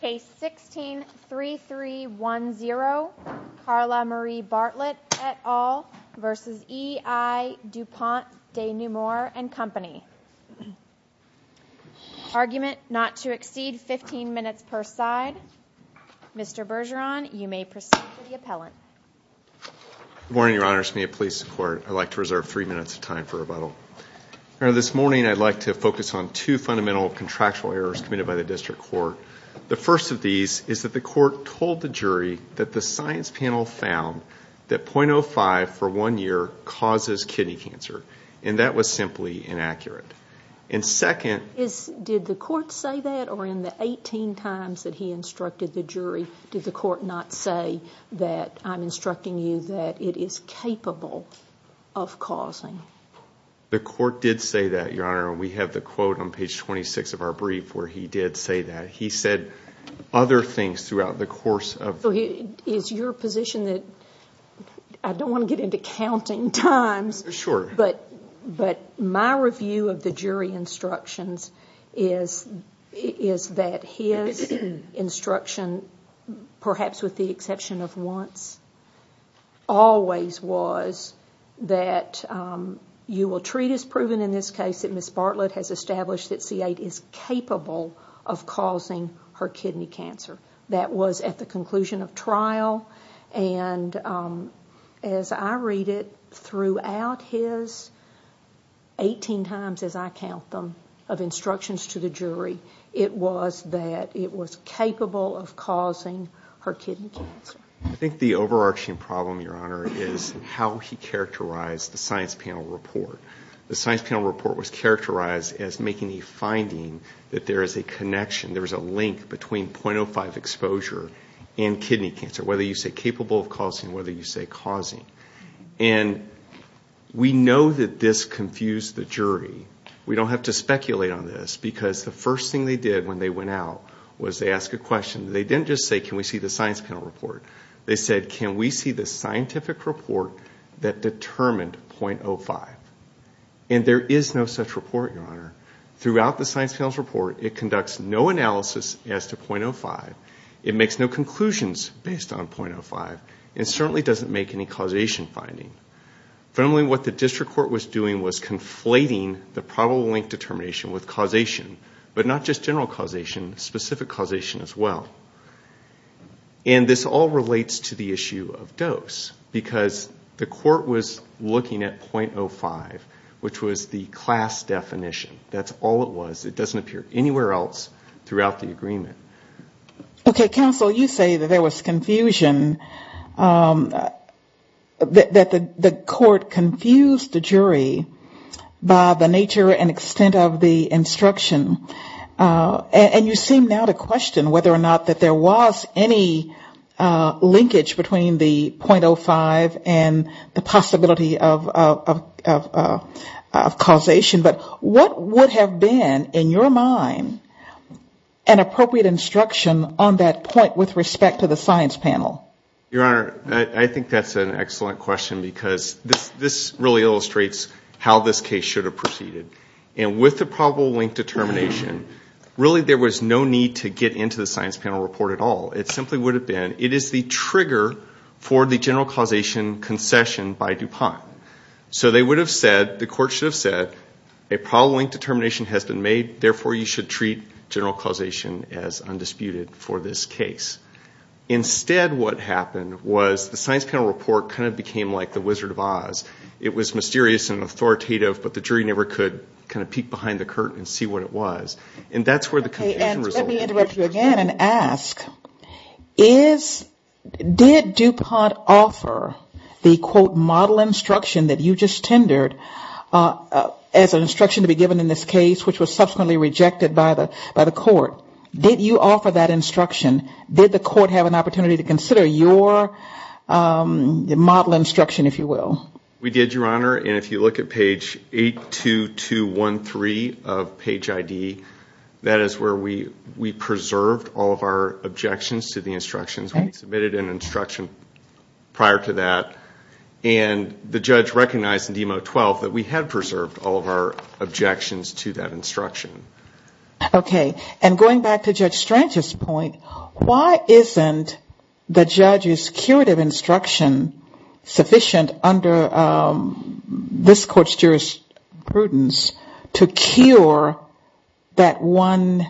Case 16-3310, Carla Marie Bartlett et al. v. E I DuPont de Nemours & Co. Argument not to exceed 15 minutes per side. Mr. Bergeron, you may proceed to the appellant. Good morning, Your Honor. Smith Police Department. I'd like to reserve three minutes of time for rebuttal. This morning, I'd like to focus on two fundamental contractual errors committed by the District Court. The first of these is that the court told the jury that the science panel found that 0.05 for one year causes kidney cancer. And that was simply inaccurate. And second... Did the court say that? Or in the 18 times that he instructed the jury, did the court not say that I'm instructing you that it is capable of causing? The court did say that, Your Honor, and we have the quote on page 26 of our brief where he did say that. He said other things throughout the course of... Is your position that... I don't want to get into counting times... Sure. But my review of the jury instructions is that his instruction, perhaps with the exception of once, always was that you will treat as proven in this case that Ms. Bartlett has established that C8 is capable of causing her kidney cancer. That was at the conclusion of trial, and as I read it throughout his 18 times, as I count them, of instructions to the jury, it was that it was capable of causing her kidney cancer. I think the overarching problem, Your Honor, is how he characterized the science panel report. The science panel report was characterized as making a finding that there is a connection, there is a link between 0.05 exposure and kidney cancer, whether you say capable of causing, whether you say causing. And we know that this confused the jury. We don't have to speculate on this because the first thing they did when they went out was they asked a question. They didn't just say, can we see the science panel report? They said, can we see the scientific report that determined 0.05? And there is no such report, Your Honor. Throughout the science panel's report, it conducts no analysis as to 0.05. It makes no conclusions based on 0.05. It certainly doesn't make any causation finding. Fundamentally, what the district court was doing was conflating the probable link determination with causation, but not just general causation, specific causation as well. And this all relates to the issue of dose because the court was looking at 0.05, which was the class definition. That's all it was. It doesn't appear anywhere else throughout the agreement. Okay, counsel, you say that there was confusion, that the court confused the jury by the nature and extent of the instruction. And you seem now to question whether or not that there was any linkage between the 0.05 and the possibility of causation. But what would have been, in your mind, an appropriate instruction on that point with respect to the science panel? Your Honor, I think that's an excellent question because this really illustrates how this case should have proceeded. And with the probable link determination, really there was no need to get into the science panel report at all. It simply would have been, it is the trigger for the general causation concession by DuPont. So they would have said, the court should have said, a probable link determination has been made, therefore you should treat general causation as undisputed for this case. Instead what happened was the science panel report kind of became like the Wizard of Oz. It was mysterious and authoritative, but the jury never could kind of peek behind the curtain and see what it was. And that's where the concession result came from. So I want to begin and ask, did DuPont offer the, quote, model instruction that you just tendered as an instruction to be given in this case, which was subsequently rejected by the court? Did you offer that instruction? Did the court have an opportunity to consider your model instruction, if you will? We did, Your Honor, and if you look at page 82213 of page ID, that is where we preserved all of our objections to the instructions. We submitted an instruction prior to that, and the judge recognized in DEMO 12 that we had preserved all of our objections to that instruction. Okay, and going back to Judge Strange's point, why isn't the judge's curative instruction sufficient under the DEMO 12? Why isn't it sufficient under this court's jurisprudence to cure that one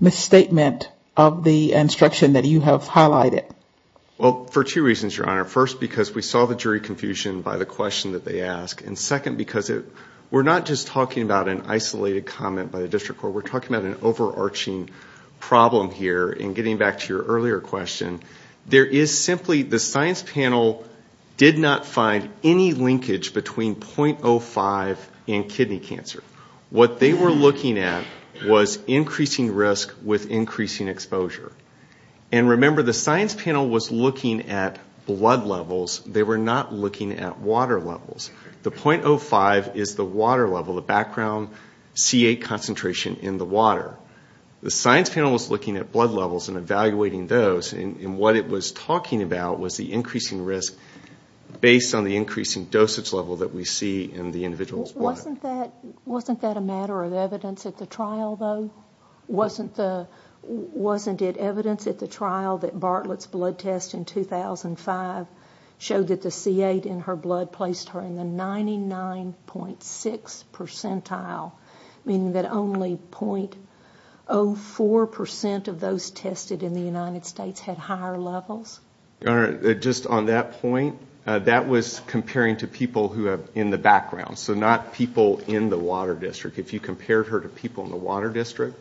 misstatement of the instruction that you have highlighted? Well, for two reasons, Your Honor. First, because we saw the jury confusion by the question that they asked, and second, because we're not just talking about an isolated comment by the district court. We're talking about an overarching problem here, and getting back to your earlier question, there is simply, the science panel did not find that any linkage between .05 and kidney cancer. What they were looking at was increasing risk with increasing exposure. And remember, the science panel was looking at blood levels, they were not looking at water levels. The .05 is the water level, the background C8 concentration in the water. The science panel was looking at blood levels and evaluating those, and what it was talking about was the increasing risk based on the increasing dosage level that we see in the individual's blood. Wasn't that a matter of evidence at the trial, though? Wasn't it evidence at the trial that Bartlett's blood test in 2005 showed that the C8 in her blood placed her in the 99.6 percentile, meaning that only .04 percent of those tested in the United States had higher levels? Just on that point, that was comparing to people in the background, so not people in the water district. If you compared her to people in the water district,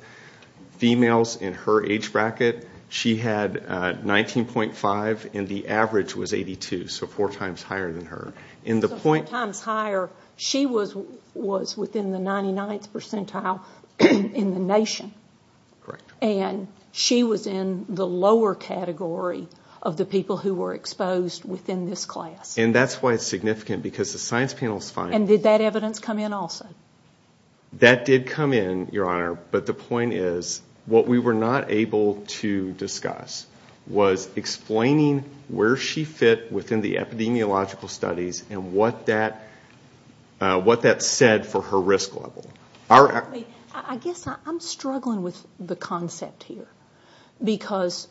females in her age bracket, she had 19.5 and the average was 82, so four times higher than her. Four times higher, she was within the 99th percentile in the nation. And she was in the lower category of the people who were exposed within this class. And that's why it's significant, because the science panel's finding... And did that evidence come in also? That did come in, Your Honor, but the point is, what we were not able to discuss was explaining where she fit within the epidemiological studies and what that said for her risk level. I guess I'm struggling with the concept here, because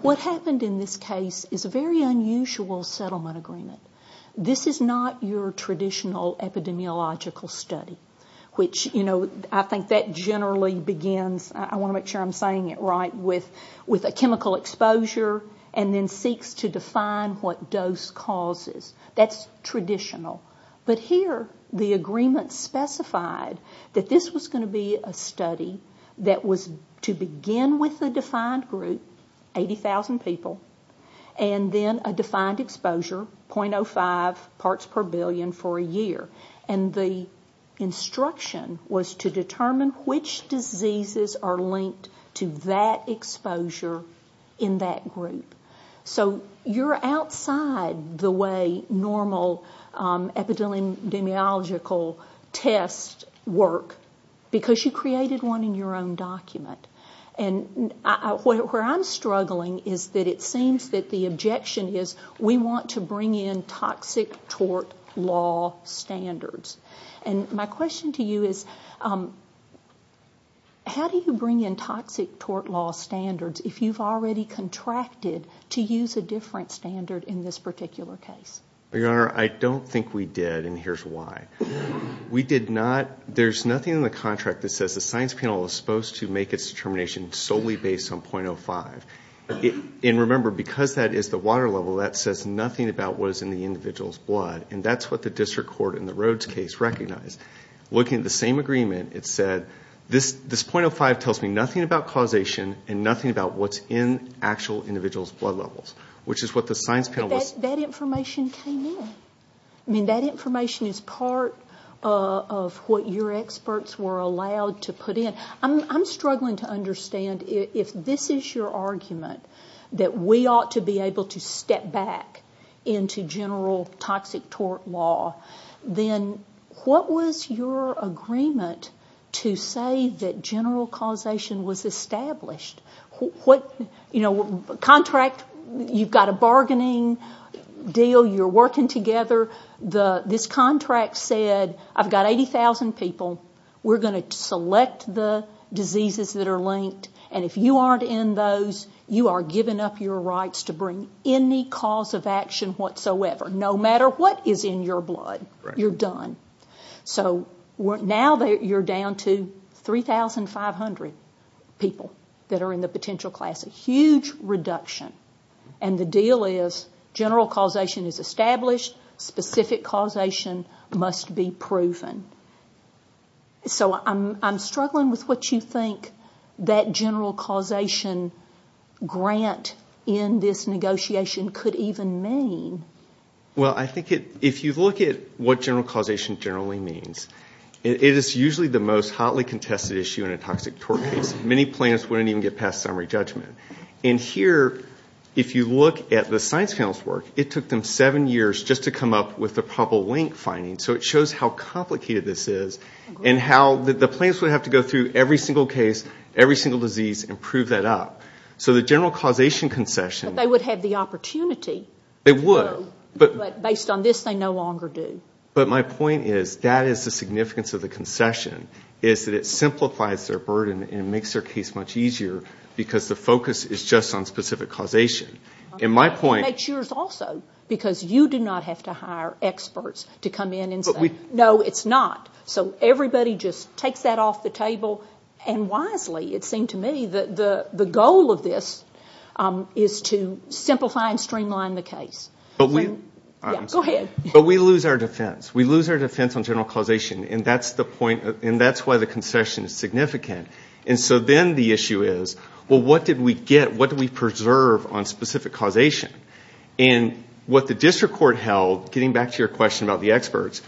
what happened in this case is a very unusual settlement agreement. This is not your traditional epidemiological study, which I think that generally begins, I want to make sure I'm saying it right, with a chemical exposure and then seeks to define what dose causes. That's traditional, but here the agreement specified that this was going to be a study that was to begin with a defined group, 80,000 people, and then a defined exposure, .05 parts per billion for a year. And the instruction was to determine which diseases are linked to that exposure in that group. So you're outside the way normal epidemiological tests work, because you created one in your own document. And where I'm struggling is that it seems that the objection is, we want to bring in toxic tort law standards. And my question to you is, how do you bring in toxic tort law standards if you've already contracted to use a different standard in this particular case? Your Honor, I don't think we did, and here's why. There's nothing in the contract that says the science panel is supposed to make its determination solely based on .05. And remember, because that is the water level, that says nothing about what is in the individual's blood. And that's what the district court in the Rhodes case recognized. Looking at the same agreement, it said this .05 tells me nothing about causation and nothing about what's in actual individual's blood levels, which is what the science panel was... But that information came in. I mean, that information is part of what your experts were allowed to put in. I'm struggling to understand, if this is your argument, that we ought to be able to step back into general toxic tort law, then what was your agreement to say that general causation was established? You've got a bargaining deal. You're working together. This contract said, I've got 80,000 people. We're going to select the diseases that are linked, and if you aren't in those, you are giving up your rights to bring any cause of action whatsoever, no matter what is in your blood. You're done. So now you're down to 3,500 people that are in the potential class. A huge reduction. And the deal is, general causation is established, specific causation must be proven. So I'm struggling with what you think that general causation grant in this negotiation could even mean. Well, I think if you look at what general causation generally means, it is usually the most hotly contested issue in a toxic tort case. Many plans wouldn't even get past summary judgment. And here, if you look at the science panel's work, it took them seven years just to come up with a probable link finding. So it shows how complicated this is, and how the plans would have to go through every single case, every single disease, and prove that up. So the general causation concession... But they would have the opportunity. But based on this, they no longer do. But my point is, that is the significance of the concession, is that it simplifies their burden and makes their case much easier, because the focus is just on specific causation. It makes yours also, because you do not have to hire experts to come in and say, no, it's not. So everybody just takes that off the table. And wisely, it seemed to me, the goal of this is to simplify and streamline the case. Go ahead. But we lose our defense. We lose our defense on general causation, and that's why the concession is significant. And so then the issue is, well, what did we get? What did we preserve on specific causation? And what the district court held, getting back to your question about the experts,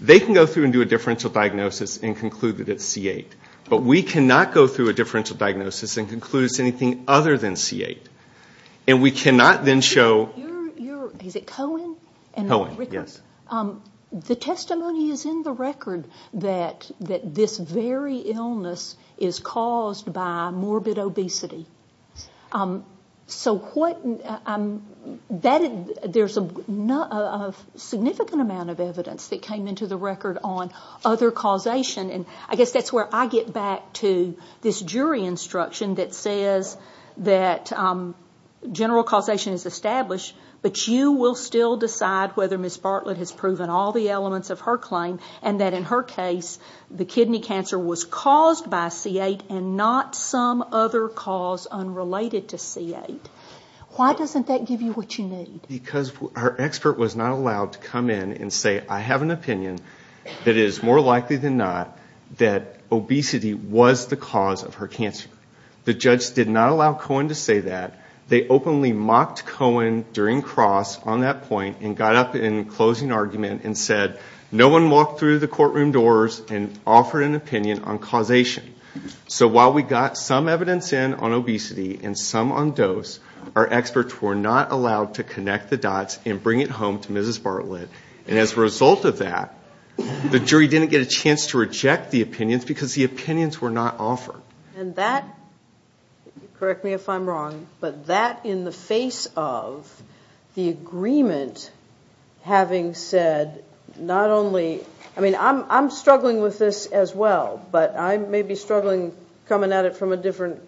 they can go through and do a differential diagnosis and conclude that it's C8. But we cannot go through a differential diagnosis and conclude it's anything other than C8. And we cannot then show... The testimony is in the record that this very illness is caused by morbid obesity. There's a significant amount of evidence that came into the record on other causation, and I guess that's where I get back to this jury instruction that says that general causation is established, but you will still decide whether Ms. Bartlett has proven all the elements of her claim, and that in her case the kidney cancer was caused by C8 and not some other cause unrelated to C8. Why doesn't that give you what you need? Because her expert was not allowed to come in and say, I have an opinion that it is more likely than not that obesity was the cause of her cancer. The judge did not allow Cohen to say that. They openly mocked Cohen during cross on that point and got up in closing argument and said, no one walked through the courtroom doors and offered an opinion on causation. So while we got some evidence in on obesity and some on dose, our experts were not allowed to connect the dots and bring it home to Mrs. Bartlett. And as a result of that, the jury didn't get a chance to reject the opinions because the opinions were not offered. And that, correct me if I'm wrong, but that in the face of the agreement having said not only... I mean, I'm struggling with this as well, but I may be struggling coming at it from a different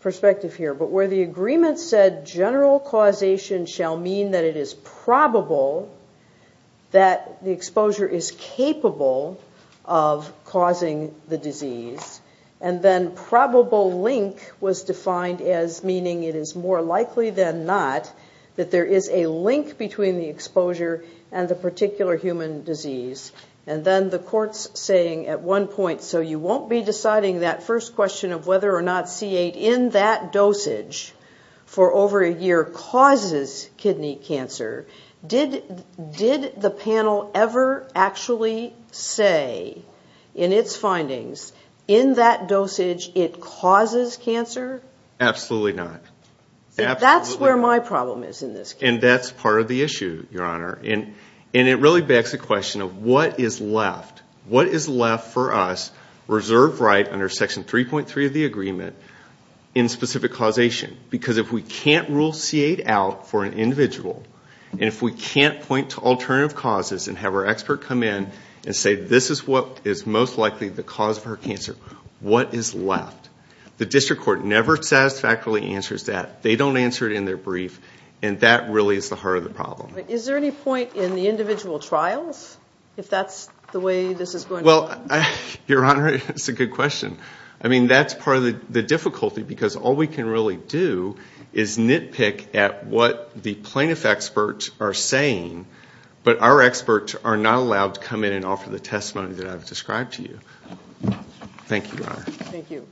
perspective here. But where the agreement said general causation shall mean that it is probable that the exposure is capable of causing the disease, and then probable link was defined as meaning it is more likely than not that there is a link between the exposure and the particular human disease. And then the court's saying at one point, so you won't be deciding that first question of whether or not C8 in that dosage for over a year causes kidney cancer. Did the panel ever actually say in its findings, in that dosage it causes cancer? Absolutely not. And that's part of the issue, Your Honor. And it really begs the question of what is left for us, reserved right under Section 3.3 of the agreement, in specific causation? Because if we can't rule C8 out for an individual, and if we can't point to alternative causes and have our expert come in and say, this is what is most likely the cause of her cancer, what is left? The district court never satisfactorily answers that. They don't answer it in their brief. And that really is the heart of the problem. Is there any point in the individual trials, if that's the way this is going to work? Well, Your Honor, it's a good question. I mean, that's part of the difficulty, because all we can really do is nitpick at what the plaintiff experts are saying, but our experts are not allowed to come in and offer the testimony that I've described to you. Thank you, Your Honor. Thank you.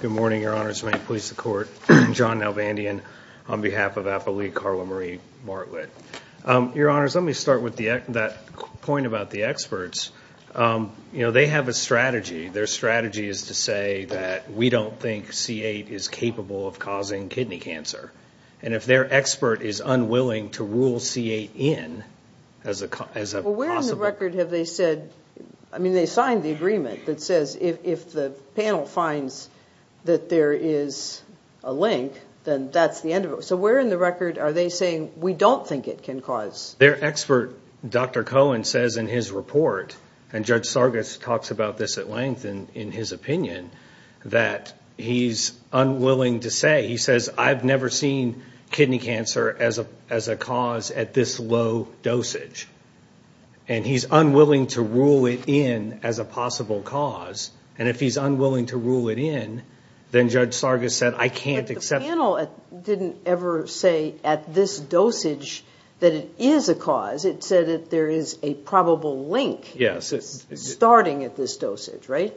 Good morning, Your Honors, and may it please the Court. I'm John Nalvandian on behalf of AFL-E, Carla Marie Martlett. Your Honors, let me start with that point about the experts. You know, they have a strategy. Their strategy is to say that we don't think C8 is capable of causing kidney cancer. And if their expert is unwilling to rule C8 in as a possible... Well, where in the record have they said, I mean, they signed the agreement that says if the panel finds that there is a link, then that's the end of it. So where in the record are they saying we don't think it can cause... Their expert, Dr. Cohen, says in his report, and Judge Sargis talks about this at length in his opinion, that he's unwilling to say, he says, I've never seen kidney cancer as a cause at this low dosage. And he's unwilling to rule it in as a possible cause, and if he's unwilling to rule it in, then Judge Sargis said, I can't accept... The panel didn't ever say at this dosage that it is a cause. It said that there is a probable link starting at this dosage, right?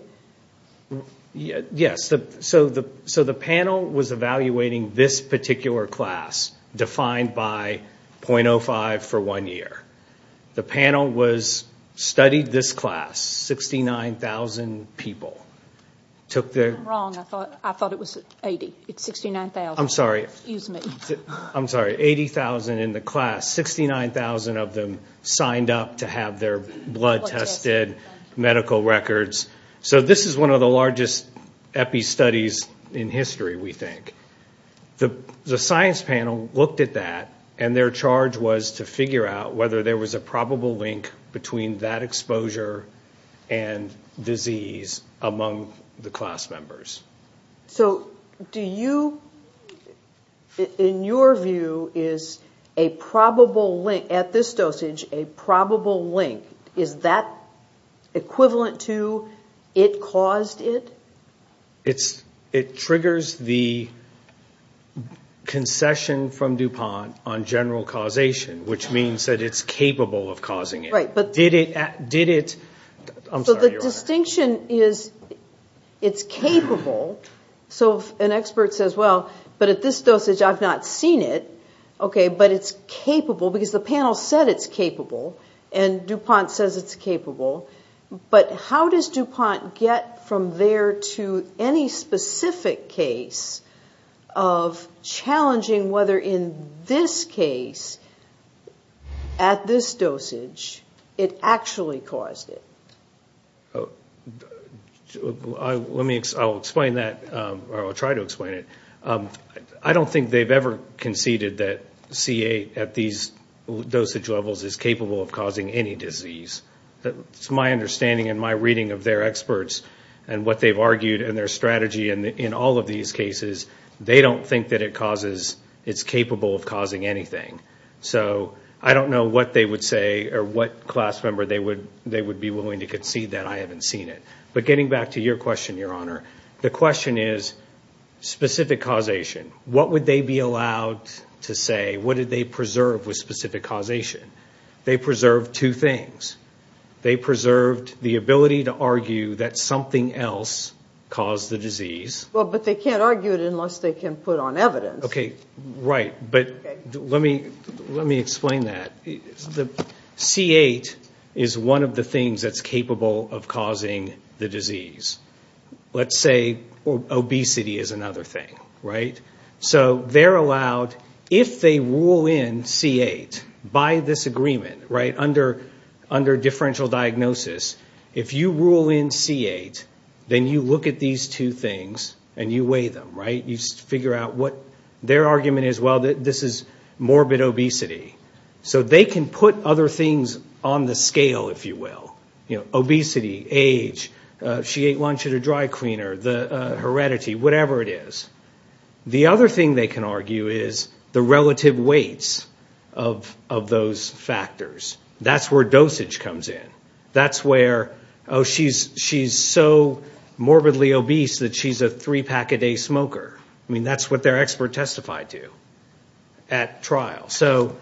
Yes. So the panel was evaluating this particular class defined by .05 for one year. The panel studied this class, 69,000 people. I'm wrong, I thought it was 80, it's 69,000. I'm sorry, 80,000 in the class, 69,000 of them signed up to have their blood tested, medical records. So this is one of the largest epi studies in history, we think. The science panel looked at that, and their charge was to figure out whether there was a probable link between that exposure and disease among the class members. So do you, in your view, is a probable link, at this dosage, a probable link, is that equivalent to it caused it? It triggers the concession from DuPont on general causation, which means that it's capable of causing it. So the distinction is it's capable, so an expert says, well, but at this dosage, I've not seen it. Okay, but it's capable, because the panel said it's capable, and DuPont says it's capable. But how does DuPont get from there to any specific case of challenging whether in this case, at this dosage, it actually caused it? Let me, I'll explain that, or I'll try to explain it. I don't think they've ever conceded that CA at these dosage levels is capable of causing any disease. It's my understanding and my reading of their experts, and what they've argued, and their strategy, and in all of these cases, they don't think that it causes, it's capable of causing anything. So I don't know what they would say, or what class member they would be willing to concede that I haven't seen it. But getting back to your question, Your Honor, the question is specific causation. What would they be allowed to say? What did they preserve with specific causation? They preserved two things. They preserved the ability to argue that something else caused the disease. Well, but they can't argue it unless they can put on evidence. Right, but let me explain that. C8 is one of the things that's capable of causing the disease. Let's say obesity is another thing. So they're allowed, if they rule in C8, by this agreement, under differential diagnosis, if you rule in C8, then you look at these two things, and you weigh them, right? You figure out what their argument is, well, this is morbid obesity. So they can put other things on the scale, if you will. Obesity, age, she ate lunch at a dry cleaner, heredity, whatever it is. The other thing they can argue is the relative weights of those factors. That's where dosage comes in. That's where, oh, she's so morbidly obese that she's a three-pack-a-day smoker. I mean, that's what their expert testified to at trial. So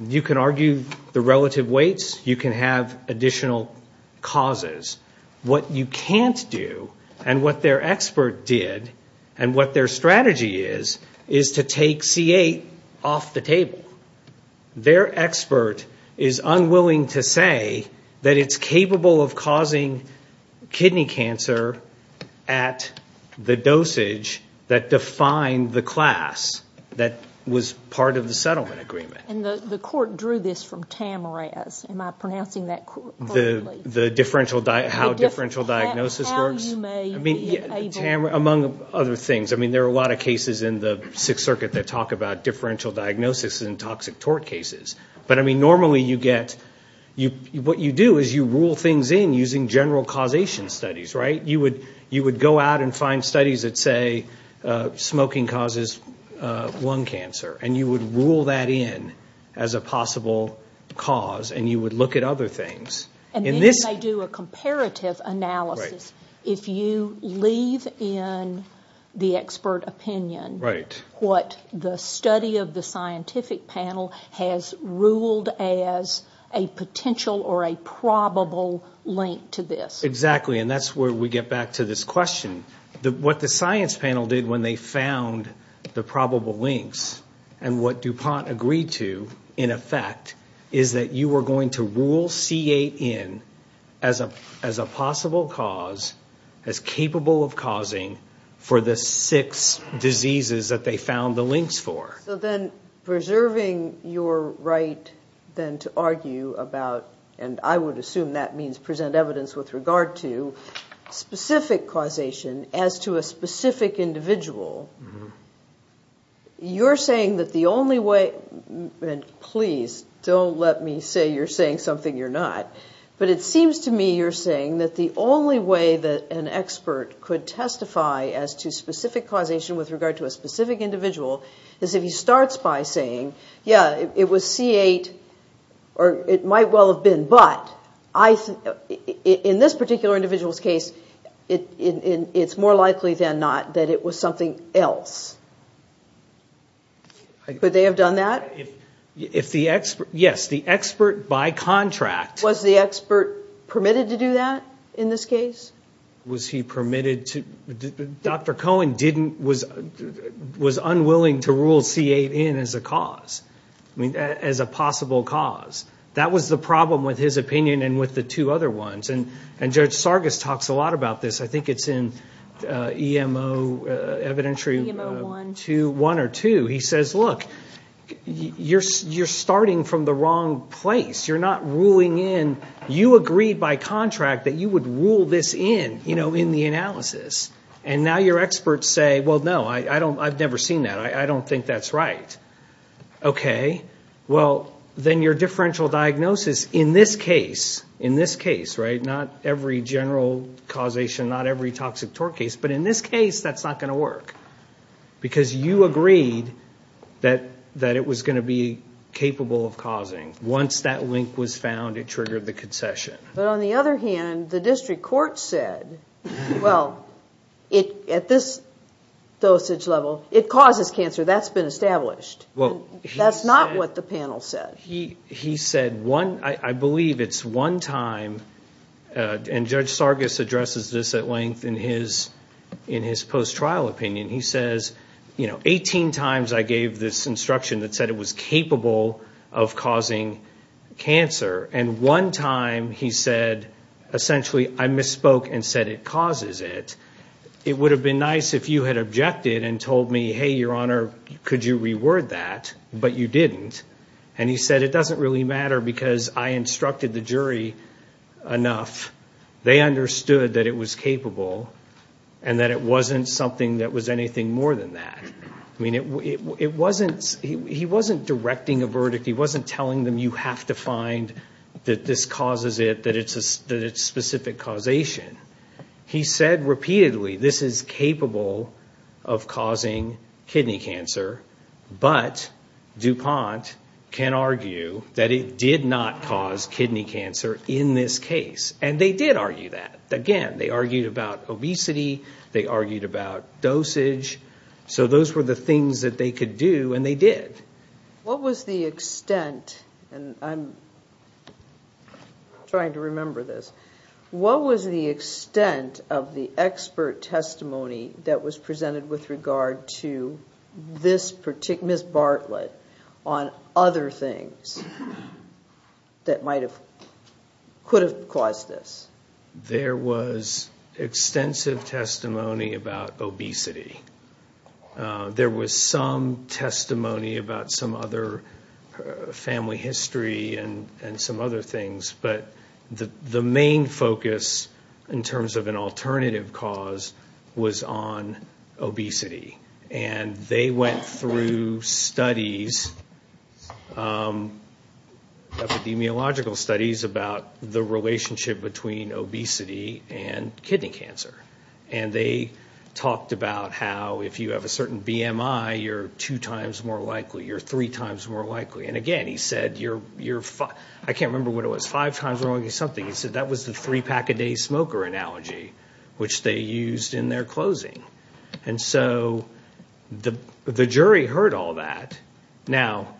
you can argue the relative weights, you can have additional causes. What you can't do, and what their expert did, and what their strategy is, is to take C8 off the table. Their expert is unwilling to say that it's capable of causing kidney cancer at the dosage that defined the class that was part of the settlement agreement. And the court drew this from Tamaraz. Am I pronouncing that correctly? How differential diagnosis works? Among other things. There are a lot of cases in the Sixth Circuit that talk about differential diagnosis in toxic tort cases. But normally what you do is you rule things in using general causation studies. You would go out and find studies that say smoking causes lung cancer. And you would rule that in as a possible cause, and you would look at other things. And then you may do a comparative analysis. If you leave in the expert opinion what the study of the scientific panel has ruled as a potential or a probable link to this. Exactly. And that's where we get back to this question. What the science panel did when they found the probable links, and what DuPont agreed to, in effect, is that you were going to rule C.A. in as a possible cause, as capable of causing for the six diseases that they found the links for. So then preserving your right then to argue about, and I would assume that means present evidence with regard to, specific causation as to a specific individual. You're saying that the only way, and please don't let me say you're saying something you're not, but it seems to me you're saying that the only way that an expert could testify as to specific causation with regard to a specific individual is if he starts by saying, yeah, it was C.A. or it might well have been, but in this particular individual's case, it's more likely than not that it was something else. Could they have done that? Yes, the expert by contract... Was the expert permitted to do that in this case? Was he permitted to? Dr. Cohen was unwilling to rule C.A. in as a cause, as a possible cause. That was the problem with his opinion and with the two other ones, and Judge Sargis talks a lot about this. I think it's in EMO evidentiary one or two. He says, look, you're starting from the wrong place. You're not ruling in. You agreed by contract that you would rule this in, in the analysis. And now your experts say, well, no, I've never seen that. I don't think that's right. Okay, well, then your differential diagnosis in this case, in this case, right, not every general causation, not every toxic tort case, but in this case, that's not going to work. Because you agreed that it was going to be capable of causing. Once that link was found, it triggered the concession. But on the other hand, the district court said, well, at this dosage level, it causes cancer. That's been established. That's not what the panel said. He said one, I believe it's one time, and Judge Sargis addresses this at length in his post-trial opinion. He says, you know, 18 times I gave this instruction that said it was capable of causing cancer. And one time he said, essentially, I misspoke and said it causes it. It would have been nice if you had objected and told me, hey, Your Honor, could you reword that? But you didn't. And he said, it doesn't really matter because I instructed the jury enough. They understood that it was capable and that it wasn't something that was anything more than that. I mean, it wasn't, he wasn't directing a verdict. He wasn't telling them you have to find that this causes it, that it's a specific causation. He said repeatedly, this is capable of causing kidney cancer, but DuPont can argue that it did not cause kidney cancer in this case. And they did argue that. Again, they argued about obesity. They argued about dosage. So those were the things that they could do, and they did. What was the extent, and I'm trying to remember this. What was the extent of the expert testimony that was presented with regard to this particular, Ms. Bartlett, on other things that might have, could have caused this? There was extensive testimony about obesity. There was some testimony about some other family history and some other things. But the main focus, in terms of an alternative cause, was on obesity. And they went through studies, epidemiological studies, about the relationship between obesity and kidney cancer. And they talked about how if you have a certain BMI, you're two times more likely, you're three times more likely. And again, he said, I can't remember what it was, five times more likely something. He said that was the three-pack-a-day smoker analogy, which they used in their closing. And so the jury heard all that. Now,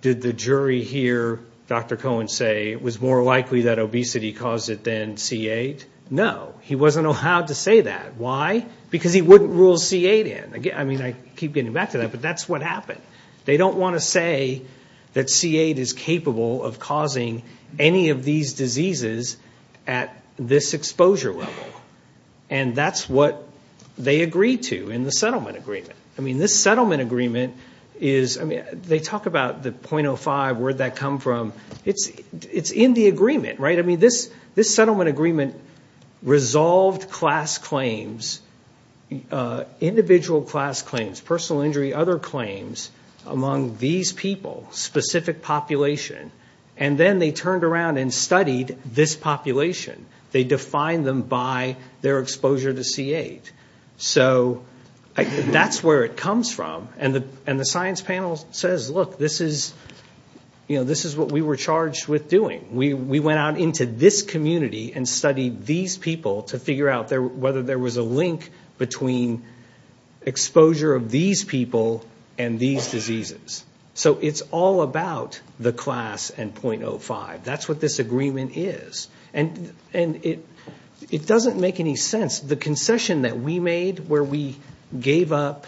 did the jury hear Dr. Cohen say it was more likely that obesity caused it than C8? No, he wasn't allowed to say that. Why? Because he wouldn't rule C8 in. I mean, I keep getting back to that, but that's what happened. They don't want to say that C8 is capable of causing any of these diseases at this exposure level. And that's what they agreed to in the settlement agreement. I mean, this settlement agreement is, I mean, they talk about the .05, where'd that come from? It's in the agreement, right? I mean, this settlement agreement resolved class claims, individual class claims, personal injury, other claims, among these people, specific population. And then they turned around and studied this population. They defined them by their exposure to C8. So that's where it comes from. And the science panel says, look, this is what we were charged with doing. We went out into this community and studied these people to figure out whether there was a link between exposure of these people and these diseases. So it's all about the class and .05. That's what this agreement is. And it doesn't make any sense. The concession that we made where we gave up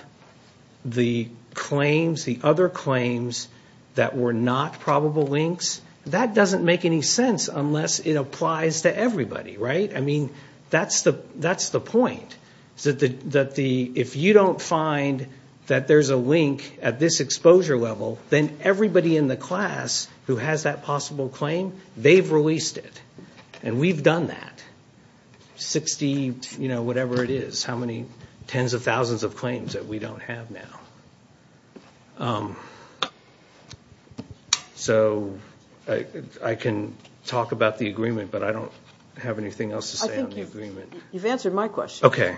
the claims, the other claims that were not probable links, that doesn't make any sense unless it applies to everybody, right? I mean, that's the point, is that if you don't find that there's a link at this exposure level, then everybody in the class who has that possible claim, they've released it. And we've done that. Sixty whatever it is, how many tens of thousands of claims that we don't have now. So I can talk about the agreement, but I don't have anything else to say on the agreement. You've answered my question. Okay.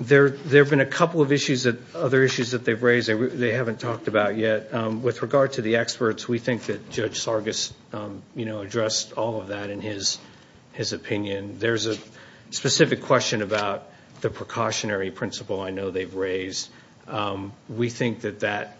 There have been a couple of other issues that they've raised they haven't talked about yet. With regard to the experts, we think that Judge Sargis addressed all of that in his opinion. There's a specific question about the precautionary principle I know they've raised. We think that that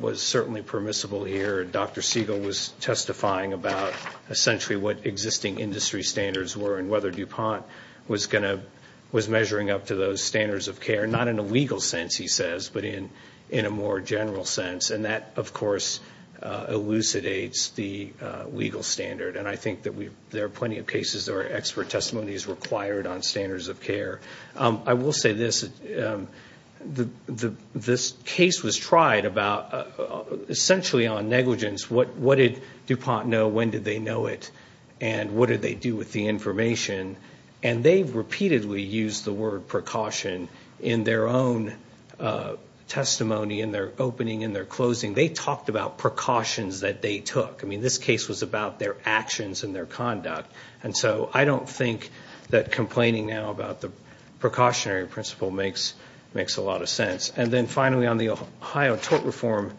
was certainly permissible here. Dr. Siegel was testifying about essentially what existing industry standards were and whether DuPont was measuring up to those standards of care. Not in a legal sense, he says, but in a more general sense. And that, of course, elucidates the legal standard. And I think that there are plenty of cases where expert testimony is required on standards of care. I will say this, this case was tried about essentially on negligence. What did DuPont know, when did they know it, and what did they do with the information? And they've repeatedly used the word precaution in their own testimony, in their opening, in their closing. They talked about precautions that they took. I mean, this case was about their actions and their conduct. And so I don't think that complaining now about the precautionary principle makes a lot of sense. And then finally, on the Ohio tort reform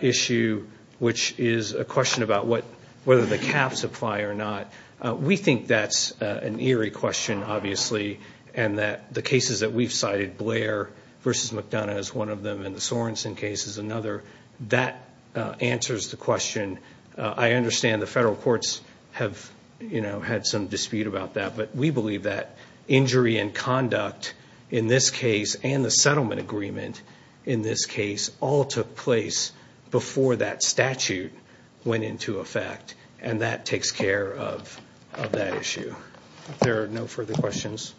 issue, which is a question about whether the caps apply or not, we think that's an eerie question, obviously, and that the cases that we've cited, Blair v. McDonough is one of them, and the Sorensen case is another, that answers the question. I understand the federal courts have had some dispute about that, but we believe that injury and conduct in this case, and the settlement agreement in this case, all took place before that statute went into effect. And that takes care of that issue. There are no further questions?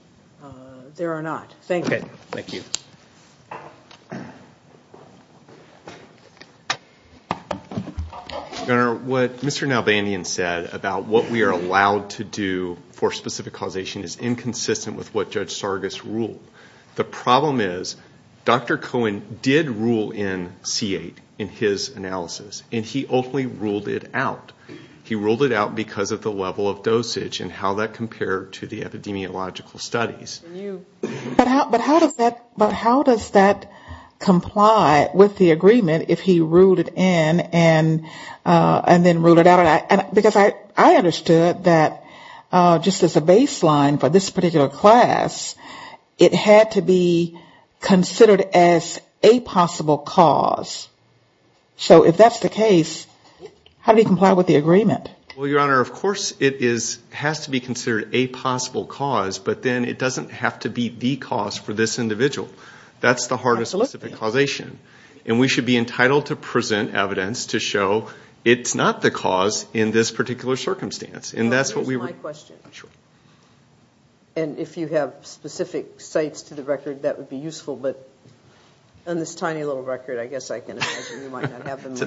There are not. Thank you. Your Honor, what Mr. Nalbandian said about what we are allowed to do for specific causation is inconsistent with what Judge Sargas ruled. The problem is, Dr. Cohen did rule in C-8 in his analysis, and he ultimately ruled it out. He ruled it out because of the level of dosage and how that compared to the epidemiological studies. But how does that comply with the agreement if he ruled it in and then ruled it out? Because I understood that just as a baseline for this particular class, it had to be considered as a possible cause. So if that's the case, how do we comply with the agreement? Well, Your Honor, of course it has to be considered a possible cause, but then it doesn't have to be the cause for this individual. That's the heart of specific causation. And we should be entitled to present evidence to show it's not the cause in this particular circumstance. And if you have specific sites to the record, that would be useful. It's in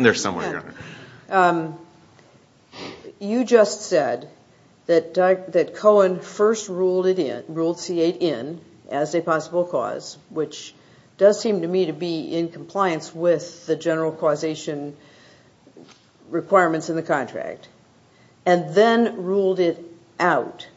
there somewhere, Your Honor. You just said that Cohen first ruled C-8 in as a possible cause, which does seem to me to be in compliance with the general causation requirements in the contract, and then ruled it out.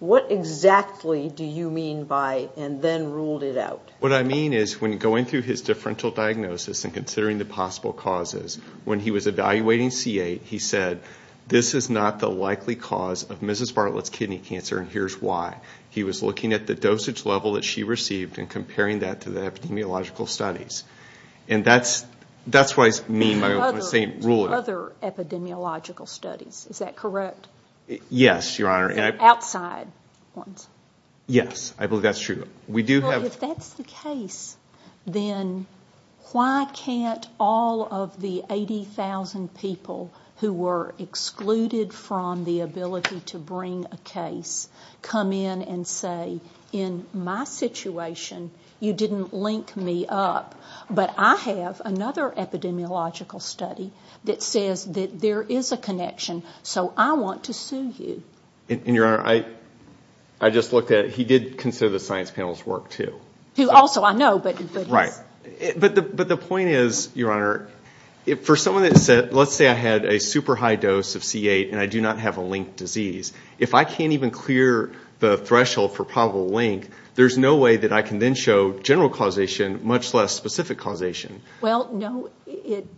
What exactly do you mean by, and then ruled it out? What I mean is when going through his differential diagnosis and considering the possible causes, when he was evaluating C-8, he said, this is not the likely cause of Mrs. Bartlett's kidney cancer and here's why. He was looking at the dosage level that she received and comparing that to the epidemiological studies. And that's what I mean by saying ruled it out. Other epidemiological studies, is that correct? Yes, Your Honor. Outside ones. Yes, I believe that's true. Well, if that's the case, then why can't all of the 80,000 people who were excluded from the ability to bring a case come in and say, in my situation, you didn't link me up, but I have another epidemiological study that says that there is a connection, so I want to sue you. And, Your Honor, I just looked at it. He did consider the science panel's work, too. Who also, I know, but... Right. But the point is, Your Honor, for someone that said, let's say I had a super high dose of C-8 and I do not have a linked disease. If I can't even clear the threshold for probable link, there's no way that I can then show general causation, much less specific causation. Well, no, it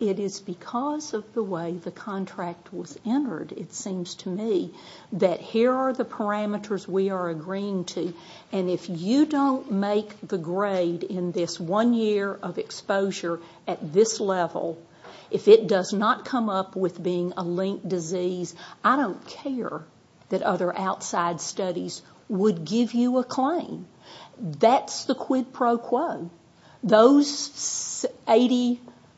is because of the way the contract was entered, it seems to me, that here are the parameters we are agreeing to. And if you don't make the grade in this one year of exposure at this level, if it does not come up with being a linked disease, I don't care that other outside studies would give you a claim. That's the quid pro quo. Those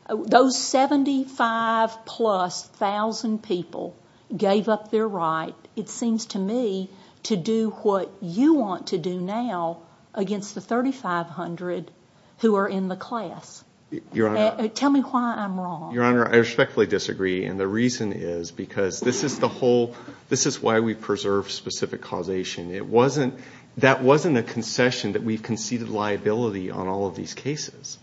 75-plus thousand people gave up their right, it seems to me, to do what you want to do now against the 3,500 who are in the class. Tell me why I'm wrong. Your Honor, I respectfully disagree, and the reason is because this is the whole... This is why we preserve specific causation. That wasn't a concession that we've conceded liability on all of these cases.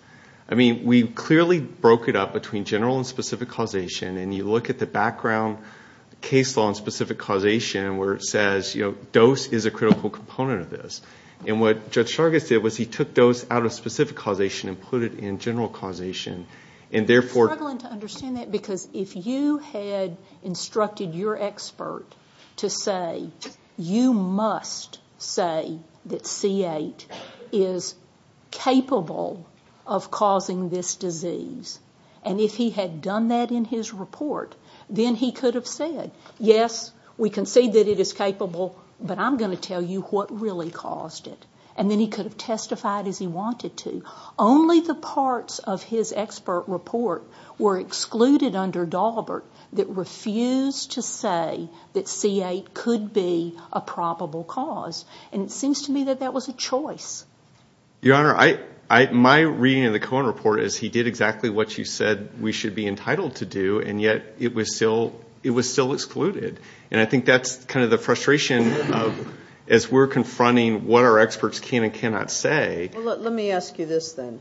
I mean, we clearly broke it up between general and specific causation, and you look at the background case law on specific causation, where it says dose is a critical component of this. And what Judge Sargis did was he took dose out of specific causation and put it in general causation, and therefore... I'm struggling to understand that, because if you had instructed your expert to say, you must say that C8 is capable of causing this disease, and if he had done that in his report, then he could have said, yes, we concede that it is capable, but I'm going to tell you what really caused it. And then he could have testified as he wanted to. Only the parts of his expert report were excluded under Daubert that refused to say that C8 could be a probable cause. And it seems to me that that was a choice. Your Honor, my reading of the Cohen report is he did exactly what you said we should be entitled to do, and yet it was still excluded. And I think that's kind of the frustration as we're confronting what our experts can and cannot say. Well, let me ask you this, then,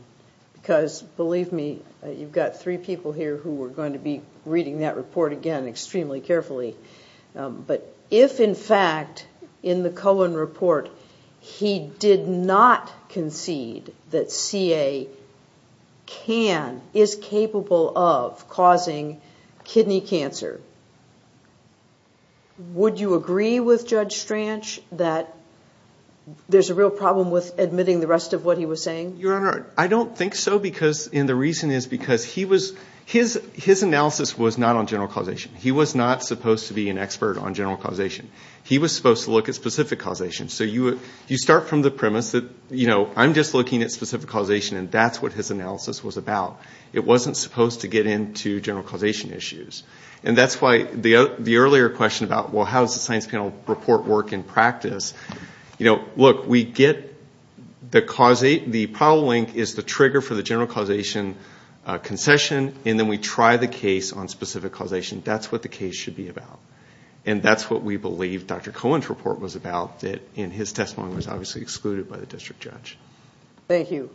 because believe me, you've got three people here who are going to be reading that report again extremely carefully. But if, in fact, in the Cohen report, he did not concede that C8 can, is capable of causing this disease, kidney cancer, would you agree with Judge Stranch that there's a real problem with admitting the rest of what he was saying? Your Honor, I don't think so, and the reason is because his analysis was not on general causation. He was not supposed to be an expert on general causation. He was supposed to look at specific causation. So you start from the premise that, you know, I'm just looking at specific causation, and that's what his analysis was about. It wasn't supposed to get into general causation issues. And that's why the earlier question about, well, how does the science panel report work in practice? You know, look, we get the probable link is the trigger for the general causation concession, and then we try the case on specific causation. That's what the case should be about, and that's what we believe Dr. Cohen's report was about. And his testimony was obviously excluded by the district judge. Thank you.